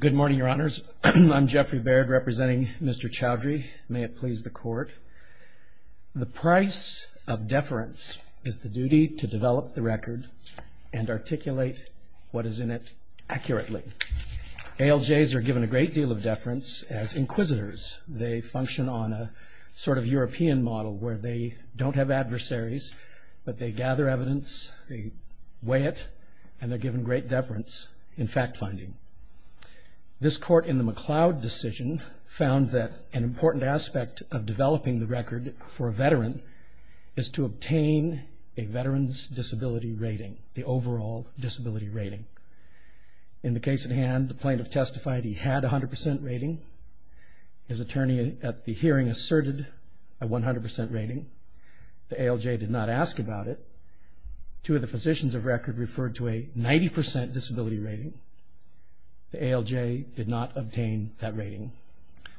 Good morning, your honors. I'm Jeffrey Baird representing Mr. Chaudhry. May it please the court. The price of deference is the duty to develop the record and articulate what is in it accurately. ALJs are given a great deal of deference as inquisitors. They function on a sort of European model where they don't have adversaries but they gather evidence, they weigh it, and they're given great deference in fact-finding. This court in the McLeod decision found that an important aspect of developing the record for a veteran is to obtain a veteran's disability rating, the overall disability rating. In the case at hand the plaintiff testified he had a hundred percent rating. His attorney at the hearing asserted a 100% rating. The ALJ did not ask about it. Two of the positions of record referred to a 90% disability rating. The ALJ did not obtain that rating.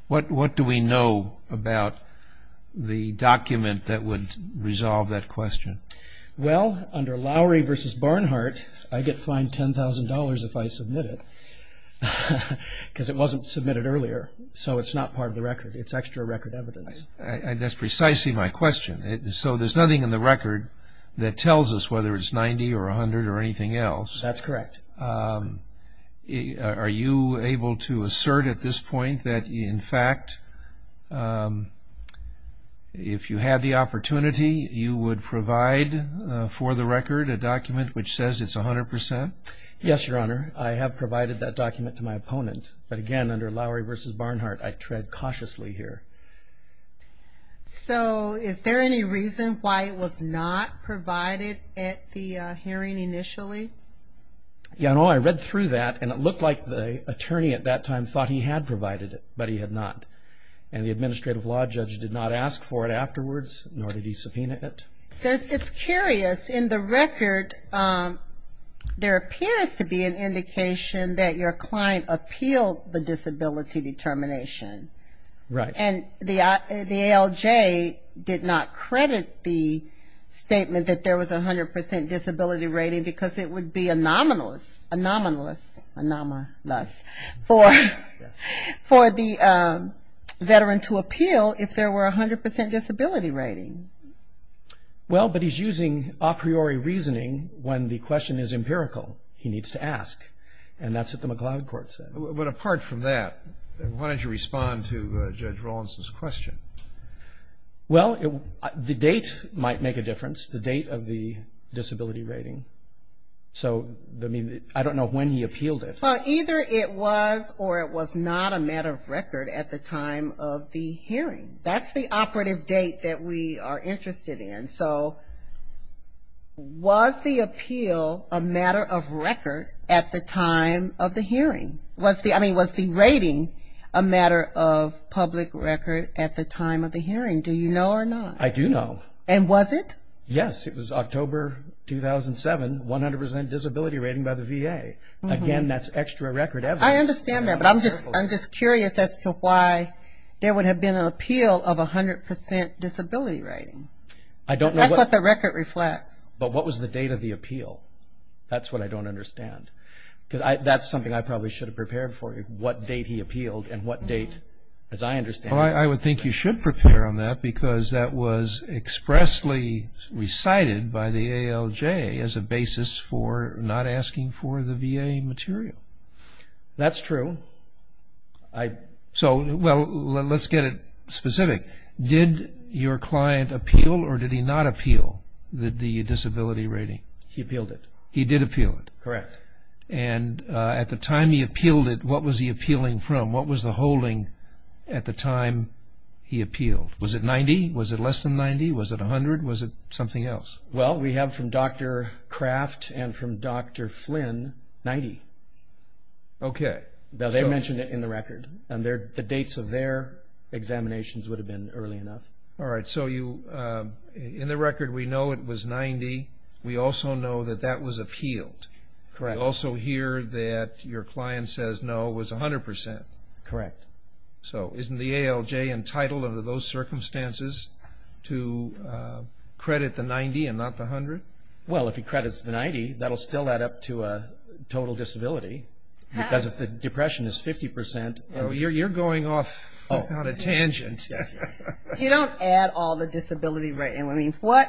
What do we know about the document that would resolve that question? Well, under Lowry v. Barnhart, I get fined $10,000 if I submit it because it wasn't submitted earlier so it's not part of the record. It's extra record evidence. That's precisely my question. So there's nothing in the record that tells us whether it's 90 or 100 or anything else. That's correct. Are you able to assert at this point that in fact if you had the opportunity you would provide for the record a document which says it's 100%? Yes, Your Honor. I have provided that document to my opponent but again under Lowry v. Barnhart I tread cautiously here. So is there any reason why it was not provided at the hearing initially? Your Honor, I read through that and it looked like the attorney at that time thought he had provided it but he had not. And the administrative law judge did not ask for it afterwards nor did he subpoena it. It's curious. In the record there appears to be an indication that your client appealed the disability determination. Right. And the ALJ did not credit the statement that there was a 100% disability rating because it would be anomalous for the veteran to appeal if there were a 100% disability rating. Well, but he's using a priori reasoning when the question is empirical. He needs to ask and that's what the McLeod court said. But apart from that, why don't you respond to Judge Rawlinson's question? Well, the date might make a difference, the date of the disability rating. So I don't know when he appealed it. Well, either it was or it was not a matter of record at the time of the hearing. That's the operative date that we are interested in. So was the appeal a matter of record at the time of the hearing? I mean, was the rating a matter of public record at the time of the hearing? Do you know or not? I do know. And was it? Yes, it was October 2007, 100% disability rating by the VA. Again, that's extra record evidence. I understand that but I'm just curious as to why there would have been an appeal of a 100% disability rating. That's what the record reflects. But what was the date of the appeal? That's what I don't understand. That's something I probably should have prepared for you, what date he appealed and what date, as I understand it. Well, I would think you should prepare on that because that was expressly recited by the ALJ as a basis for not asking for the VA material. That's true. Well, let's get it specific. Did your client appeal or did he not appeal the disability rating? He appealed it. He did appeal it? Correct. And at the time he appealed it, what was he appealing from? What was the holding at the time he appealed? Was it 90? Was it less than 90? Was it 100? Was it something else? Well, we have from Dr. Craft and from Dr. Flynn, 90. Okay. Now, they mentioned it in the record, and the dates of their examinations would have been early enough. All right, so in the record we know it was 90. We also know that that was appealed. Correct. We also hear that your client says no, it was 100%. Correct. So isn't the ALJ entitled under those circumstances to credit the 90 and not the 100? Well, if he credits the 90, that will still add up to a total disability because if the depression is 50% you're going off on a tangent. You don't add all the disability rating. I mean, what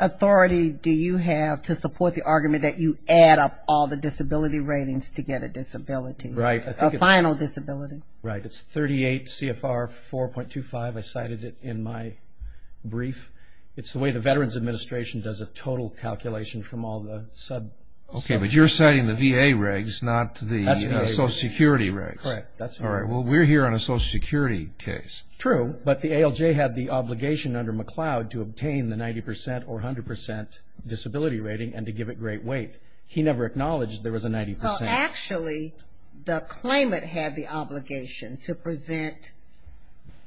authority do you have to support the argument that you add up all the disability ratings to get a disability, a final disability? Right. It's 38 CFR 4.25. I cited it in my brief. It's the way the Veterans Administration does a total calculation from all the subs. Okay, but you're citing the VA regs, not the Social Security regs. Correct. All right, well, we're here on a Social Security case. True, but the ALJ had the obligation under McLeod to obtain the 90% or 100% disability rating and to give it great weight. He never acknowledged there was a 90%. Well, actually, the claimant had the obligation to present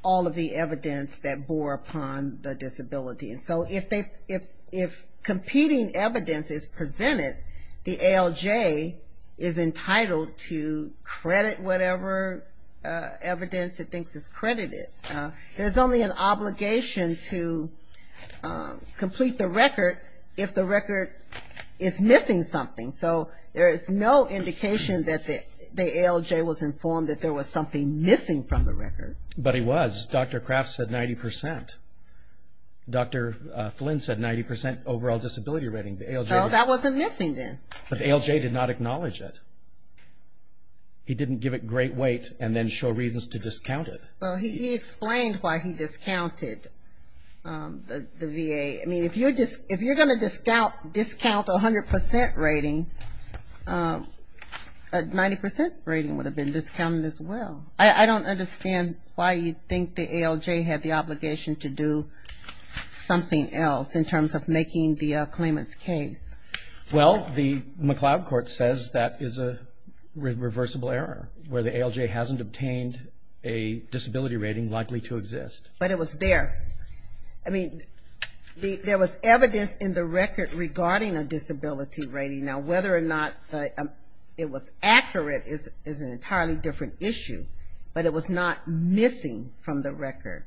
all of the evidence that bore upon the disability. So if competing evidence is presented, the ALJ is entitled to credit whatever evidence it thinks is credited. There's only an obligation to complete the record if the record is missing something. So there is no indication that the ALJ was informed that there was something missing from the record. But he was. Dr. Craft said 90%. Dr. Flynn said 90% overall disability rating. So that wasn't missing then. But the ALJ did not acknowledge it. He didn't give it great weight and then show reasons to discount it. Well, he explained why he discounted the VA. I mean, if you're going to discount a 100% rating, a 90% rating would have been discounted as well. I don't understand why you think the ALJ had the obligation to do something else in terms of making the claimant's case. Well, the McLeod Court says that is a reversible error, where the ALJ hasn't obtained a disability rating likely to exist. But it was there. I mean, there was evidence in the record regarding a disability rating. Now, whether or not it was accurate is an entirely different issue. But it was not missing from the record.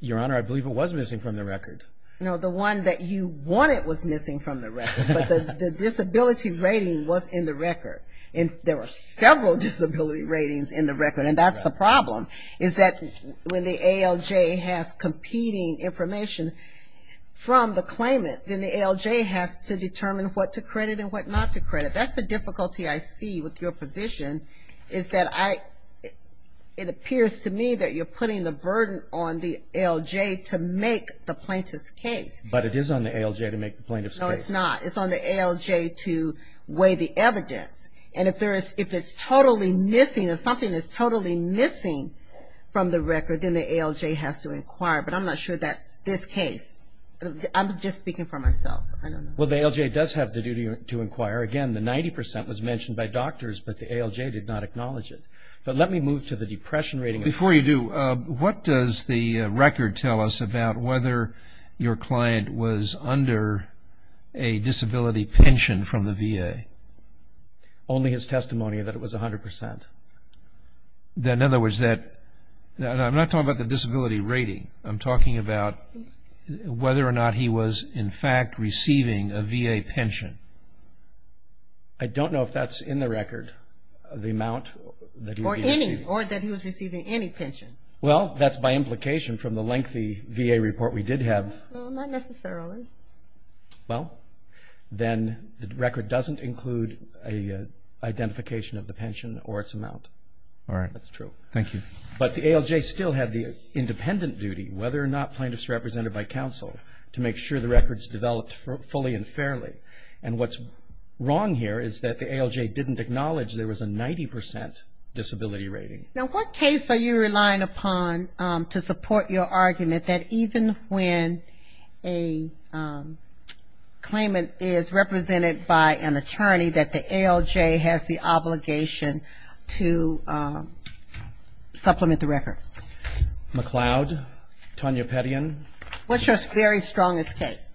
Your Honor, I believe it was missing from the record. No, the one that you wanted was missing from the record. But the disability rating was in the record. And there were several disability ratings in the record. And that's the problem, is that when the ALJ has competing information from the claimant, then the ALJ has to determine what to credit and what not to credit. That's the difficulty I see with your position, is that it appears to me that you're putting the burden on the ALJ to make the plaintiff's case. But it is on the ALJ to make the plaintiff's case. No, it's not. It's on the ALJ to weigh the evidence. And if it's totally missing, if something is totally missing from the record, then the ALJ has to inquire. But I'm not sure that's this case. I'm just speaking for myself. I don't know. Well, the ALJ does have the duty to inquire. Again, the 90% was mentioned by doctors, but the ALJ did not acknowledge it. But let me move to the depression rating. Before you do, what does the record tell us about whether your client was under a disability pension from the VA? Only his testimony that it was 100%. In other words, I'm not talking about the disability rating. I'm talking about whether or not he was, in fact, receiving a VA pension. I don't know if that's in the record, the amount that he was receiving. Or that he was receiving any pension. Well, that's by implication from the lengthy VA report we did have. Well, not necessarily. Well, then the record doesn't include an identification of the pension or its amount. All right. That's true. Thank you. But the ALJ still had the independent duty, whether or not plaintiff's represented by counsel, to make sure the record's developed fully and fairly. And what's wrong here is that the ALJ didn't acknowledge there was a 90% disability rating. Now, what case are you relying upon to support your argument that even when a claimant is represented by an attorney, that the ALJ has the obligation to supplement the record? McLeod. Tonya Pettyen. What's your very strongest case?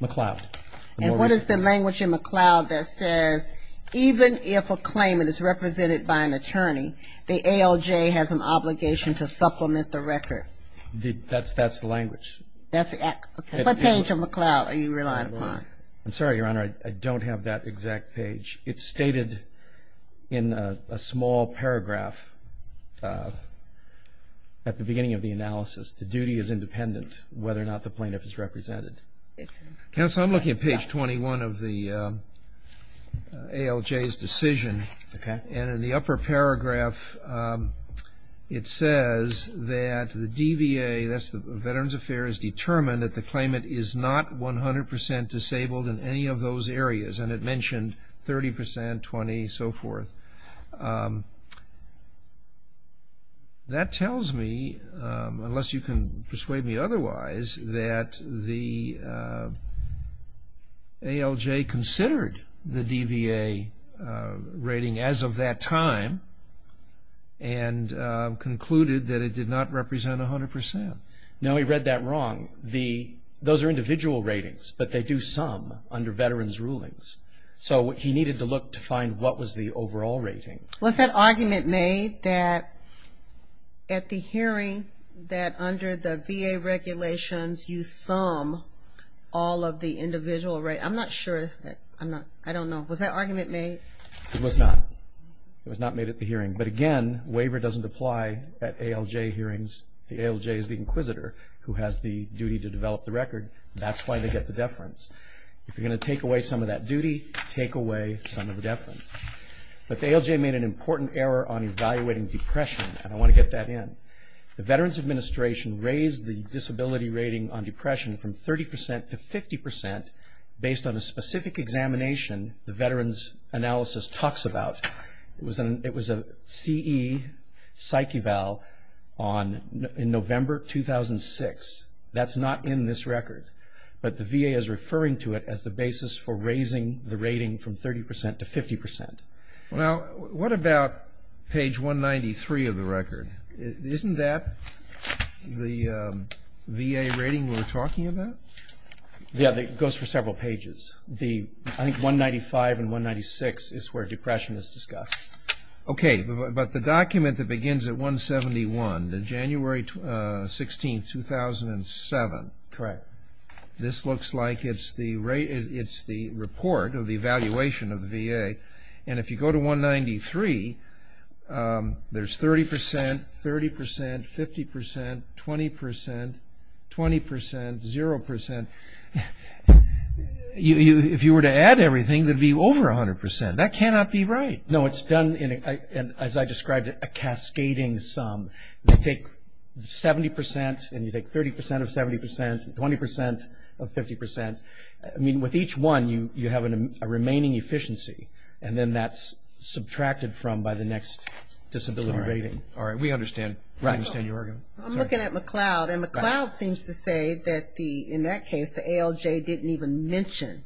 McLeod. And what is the language in McLeod that says even if a claimant is represented by an attorney, the ALJ has an obligation to supplement the record? That's the language. What page of McLeod are you relying upon? I'm sorry, Your Honor, I don't have that exact page. It's stated in a small paragraph at the beginning of the analysis, the duty is independent whether or not the plaintiff is represented. Counsel, I'm looking at page 21 of the ALJ's decision. Okay. And in the upper paragraph, it says that the DVA, that's the Veterans Affairs, determined that the claimant is not 100% disabled in any of those areas, and it mentioned 30%, 20%, so forth. That tells me, unless you can persuade me otherwise, that the ALJ considered the DVA rating as of that time and concluded that it did not represent 100%. No, he read that wrong. Those are individual ratings, but they do sum under veterans' rulings. So he needed to look to find what was the overall rating. Was that argument made that at the hearing that under the VA regulations, you sum all of the individual ratings? I'm not sure. I don't know. Was that argument made? It was not. It was not made at the hearing. But again, waiver doesn't apply at ALJ hearings. The ALJ is the inquisitor who has the duty to develop the record. That's why they get the deference. If you're going to take away some of that duty, take away some of the deference. But the ALJ made an important error on evaluating depression, and I want to get that in. The Veterans Administration raised the disability rating on depression from 30% to 50% based on a specific examination the Veterans Analysis talks about. It was a CE psych eval in November 2006. That's not in this record. But the VA is referring to it as the basis for raising the rating from 30% to 50%. Now, what about page 193 of the record? Isn't that the VA rating we're talking about? Yeah, it goes for several pages. I think 195 and 196 is where depression is discussed. Okay, but the document that begins at 171, January 16, 2007. Correct. This looks like it's the report of the evaluation of the VA. And if you go to 193, there's 30%, 30%, 50%, 20%, 20%, 0%. If you were to add everything, it would be over 100%. That cannot be right. No, it's done in, as I described, a cascading sum. You take 70% and you take 30% of 70%, 20% of 50%. I mean, with each one, you have a remaining efficiency, and then that's subtracted from by the next disability rating. All right, we understand your argument. I'm looking at McLeod, and McLeod seems to say that, in that case, the ALJ didn't even mention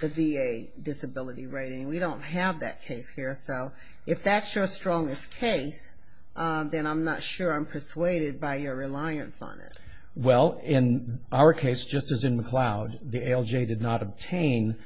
the VA disability rating. We don't have that case here. So if that's your strongest case, then I'm not sure I'm persuaded by your reliance on it. Well, in our case, just as in McLeod, the ALJ did not obtain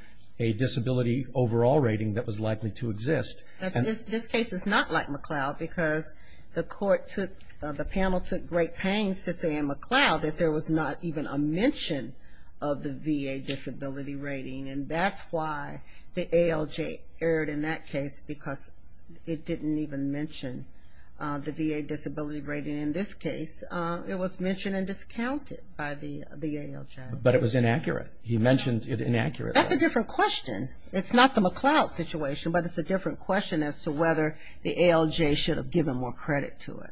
a disability overall rating that was likely to exist. This case is not like McLeod because the panel took great pains to say in McLeod that there was not even a mention of the VA disability rating, and that's why the ALJ erred in that case because it didn't even mention the VA disability rating. In this case, it was mentioned and discounted by the ALJ. But it was inaccurate. He mentioned it inaccurately. That's a different question. It's not the McLeod situation, but it's a different question as to whether the ALJ should have given more credit to it.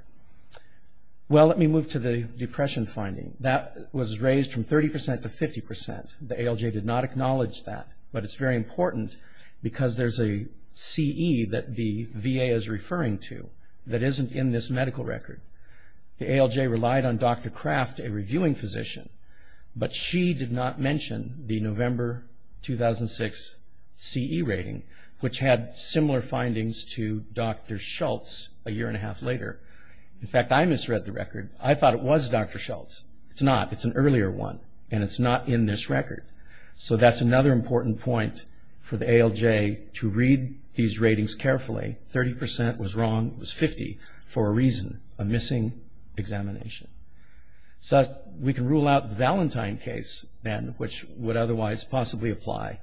Well, let me move to the depression finding. That was raised from 30% to 50%. The ALJ did not acknowledge that, but it's very important because there's a CE that the VA is referring to that isn't in this medical record. The ALJ relied on Dr. Kraft, a reviewing physician, but she did not mention the November 2006 CE rating, which had similar findings to Dr. Schultz a year and a half later. In fact, I misread the record. I thought it was Dr. Schultz. It's not. It's an earlier one, and it's not in this record. So that's another important point for the ALJ to read these ratings carefully. Thirty percent was wrong. It was 50 for a reason, a missing examination. So we can rule out the Valentine case then, which would otherwise possibly apply.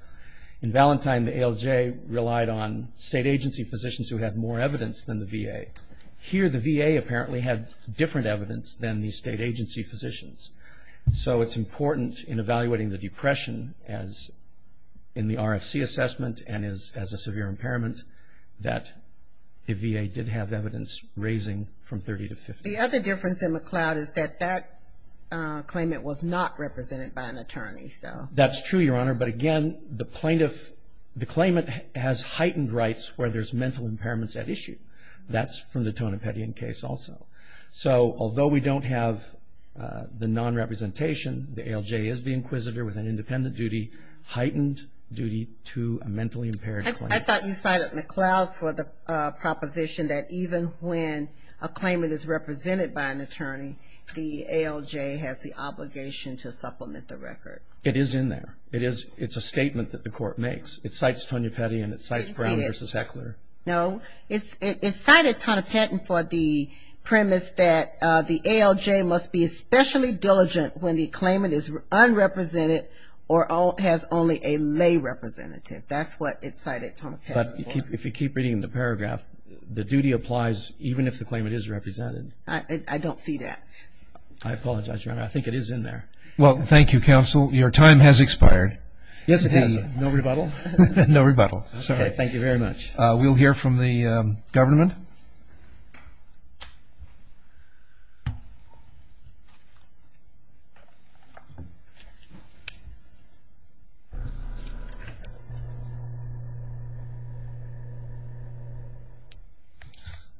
In Valentine, the ALJ relied on state agency physicians who had more evidence than the VA. Here the VA apparently had different evidence than the state agency physicians. So it's important in evaluating the depression as in the RFC assessment and as a severe impairment that the VA did have evidence raising from 30 to 50. The other difference in McLeod is that that claimant was not represented by an attorney. That's true, Your Honor. But again, the plaintiff, the claimant has heightened rights where there's mental impairments at issue. That's from the Tonopetian case also. So although we don't have the non-representation, the ALJ is the inquisitor with an independent duty, heightened duty to a mentally impaired plaintiff. I thought you cited McLeod for the proposition that even when a claimant is represented by an attorney, the ALJ has the obligation to supplement the record. It is in there. It's a statement that the court makes. It cites Tonopetian and it cites Brown v. Heckler. No, it cited Tonopetian for the premise that the ALJ must be especially diligent when the claimant is unrepresented or has only a lay representative. That's what it cited Tonopetian for. But if you keep reading the paragraph, the duty applies even if the claimant is represented. I don't see that. I apologize, Your Honor. I think it is in there. Well, thank you, Counsel. Your time has expired. Yes, it has. No rebuttal? No rebuttal. Okay. Thank you very much. We'll hear from the government.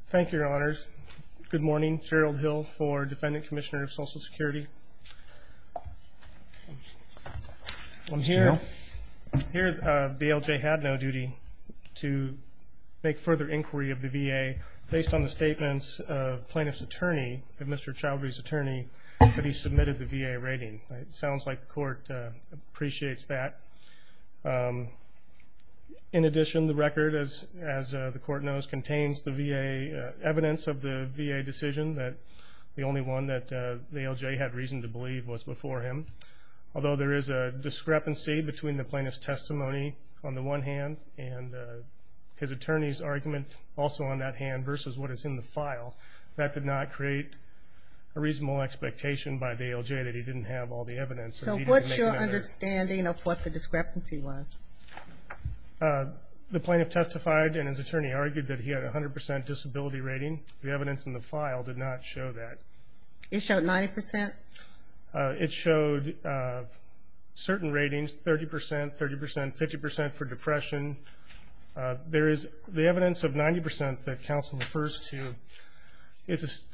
Thank you, Your Honors. Good morning. Gerald Hill for Defendant Commissioner of Social Security. I'm here. Here, the ALJ had no duty to make further inquiry of the VA based on the statements of plaintiff's attorney, Mr. Chalbery's attorney, that he submitted the VA rating. It sounds like the court appreciates that. In addition, the record, as the court knows, contains the VA evidence of the VA decision, the only one that the ALJ had reason to believe was before him. Although there is a discrepancy between the plaintiff's testimony on the one hand and his attorney's argument also on that hand versus what is in the file, that did not create a reasonable expectation by the ALJ that he didn't have all the evidence. So what's your understanding of what the discrepancy was? The plaintiff testified, and his attorney argued that he had a 100% disability rating. The evidence in the file did not show that. It showed 90%? It showed certain ratings, 30%, 30%, 50% for depression. The evidence of 90% that counsel refers to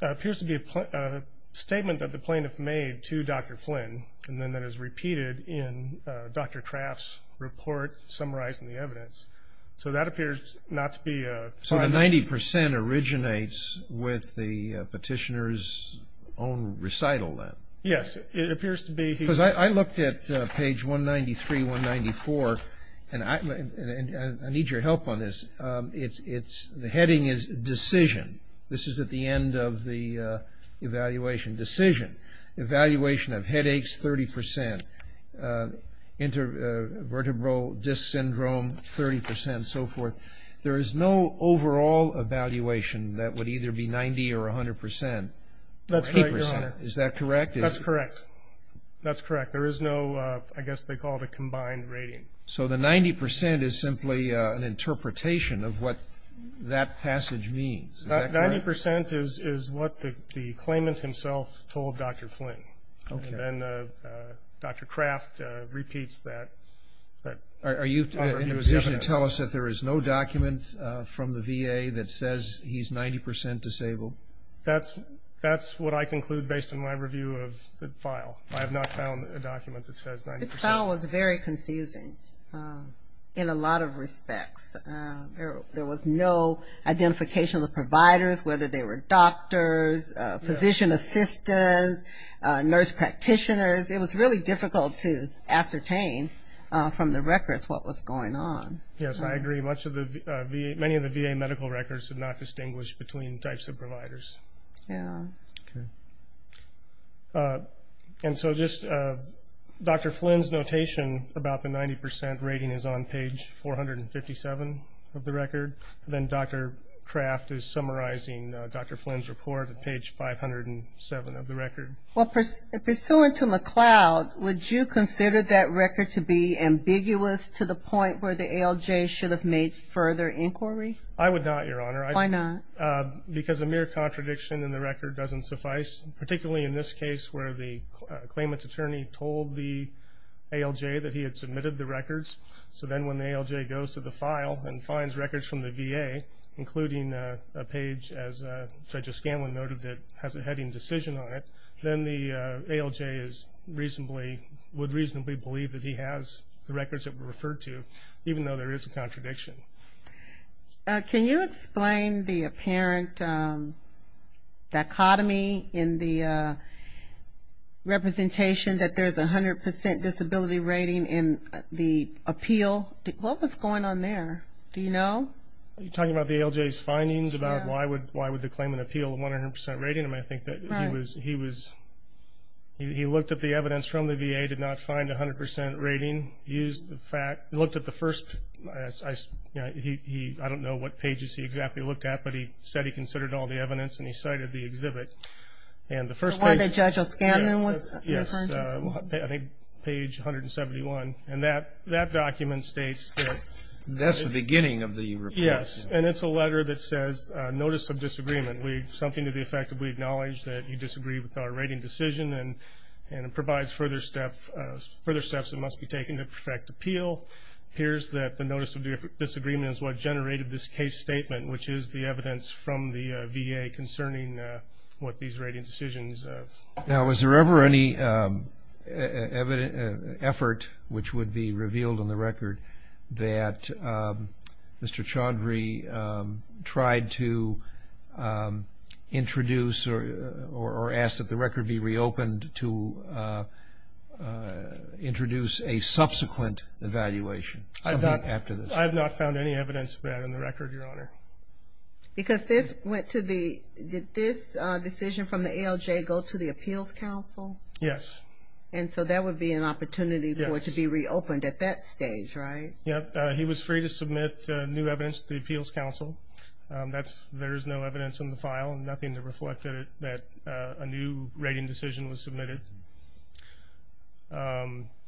appears to be a statement that the plaintiff made to Dr. Flynn and then that is repeated in Dr. Traft's report summarizing the evidence. So that appears not to be a fact. So the 90% originates with the petitioner's own recital then? Yes. It appears to be. Because I looked at page 193, 194, and I need your help on this. The heading is decision. This is at the end of the evaluation. Decision. Evaluation of headaches, 30%. Intervertebral disc syndrome, 30% and so forth. There is no overall evaluation that would either be 90 or 100%. That's right, Your Honor. Is that correct? That's correct. That's correct. There is no, I guess they call it a combined rating. So the 90% is simply an interpretation of what that passage means. Is that correct? 90% is what the claimant himself told Dr. Flynn. Okay. And then Dr. Traft repeats that. Are you in a position to tell us that there is no document from the VA that says he's 90% disabled? That's what I conclude based on my review of the file. I have not found a document that says 90%. This file was very confusing in a lot of respects. There was no identification of the providers, whether they were doctors, physician assistants, nurse practitioners. It was really difficult to ascertain from the records what was going on. Yes, I agree. Many of the VA medical records did not distinguish between types of providers. Yeah. Okay. And so just Dr. Flynn's notation about the 90% rating is on page 457 of the record. Then Dr. Traft is summarizing Dr. Flynn's report at page 507 of the record. Well, pursuant to McLeod, would you consider that record to be ambiguous to the point where the ALJ should have made further inquiry? I would not, Your Honor. Why not? Because a mere contradiction in the record doesn't suffice, particularly in this case where the claimant's attorney told the ALJ that he had submitted the records. So then when the ALJ goes to the file and finds records from the VA, including a page, as Judge O'Scanlan noted, that has a heading decision on it, then the ALJ would reasonably believe that he has the records that were referred to, even though there is a contradiction. Can you explain the apparent dichotomy in the representation that there's a 100% disability rating in the appeal? What was going on there? Do you know? Are you talking about the ALJ's findings about why would the claimant appeal a 100% rating? I think that he looked at the evidence from the VA, did not find a 100% rating, looked at the first, I don't know what pages he exactly looked at, but he said he considered all the evidence and he cited the exhibit. The one that Judge O'Scanlan was referring to? Yes, I think page 171. And that document states that. That's the beginning of the report. Yes, and it's a letter that says, Notice of Disagreement, something to the effect that we acknowledge that you disagree with our rating decision and it provides further steps that must be taken to perfect appeal. Here's that the Notice of Disagreement is what generated this case statement, which is the evidence from the VA concerning what these rating decisions are. Now, is there ever any effort which would be revealed on the record that Mr. Chaudhry tried to introduce or ask that the record be reopened to introduce a subsequent evaluation? I have not found any evidence of that on the record, Your Honor. Because did this decision from the ALJ go to the Appeals Council? Yes. And so that would be an opportunity for it to be reopened at that stage, right? Yes. He was free to submit new evidence to the Appeals Council. There is no evidence in the file, nothing to reflect that a new rating decision was submitted.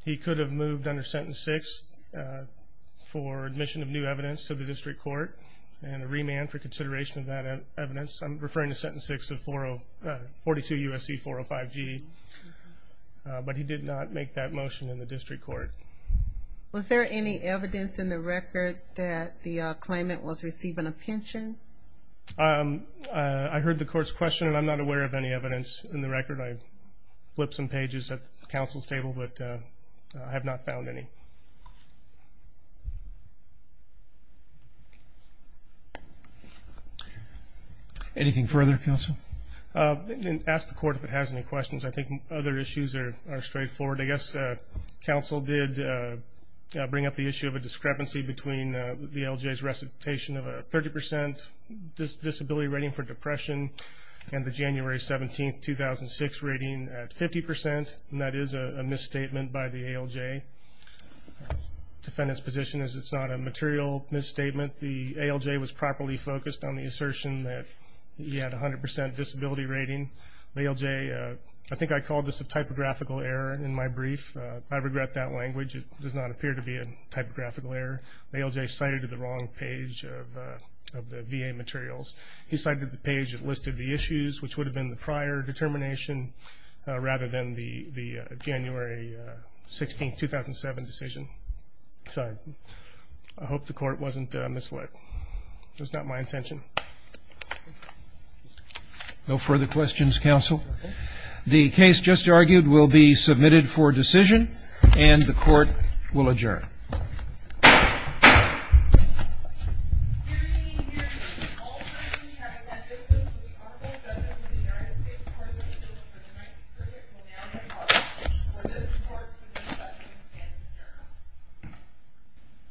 He could have moved under Sentence 6 for admission of new evidence to the court and a remand for consideration of that evidence. I'm referring to Sentence 6 of 42 U.S.C. 405 G. But he did not make that motion in the district court. Was there any evidence in the record that the claimant was receiving a pension? I heard the court's question, and I'm not aware of any evidence in the record. I flipped some pages at the counsel's table, but I have not found any. Anything further, counsel? Ask the court if it has any questions. I think other issues are straightforward. I guess counsel did bring up the issue of a discrepancy between the ALJ's recitation of a 30% disability rating for depression and the January 17, 2006, rating at 50%. And that is a misstatement by the ALJ. The defendant's position is it's not a material misstatement. The ALJ was properly focused on the assertion that he had a 100% disability rating. The ALJ, I think I called this a typographical error in my brief. I regret that language. It does not appear to be a typographical error. The ALJ cited the wrong page of the VA materials. He cited the page that listed the issues, which would have been the prior determination rather than the January 16, 2007 decision. Sorry. I hope the court wasn't misled. It was not my intention. No further questions, counsel? The case just argued will be submitted for decision, and the court will adjourn. The hearing is adjourned.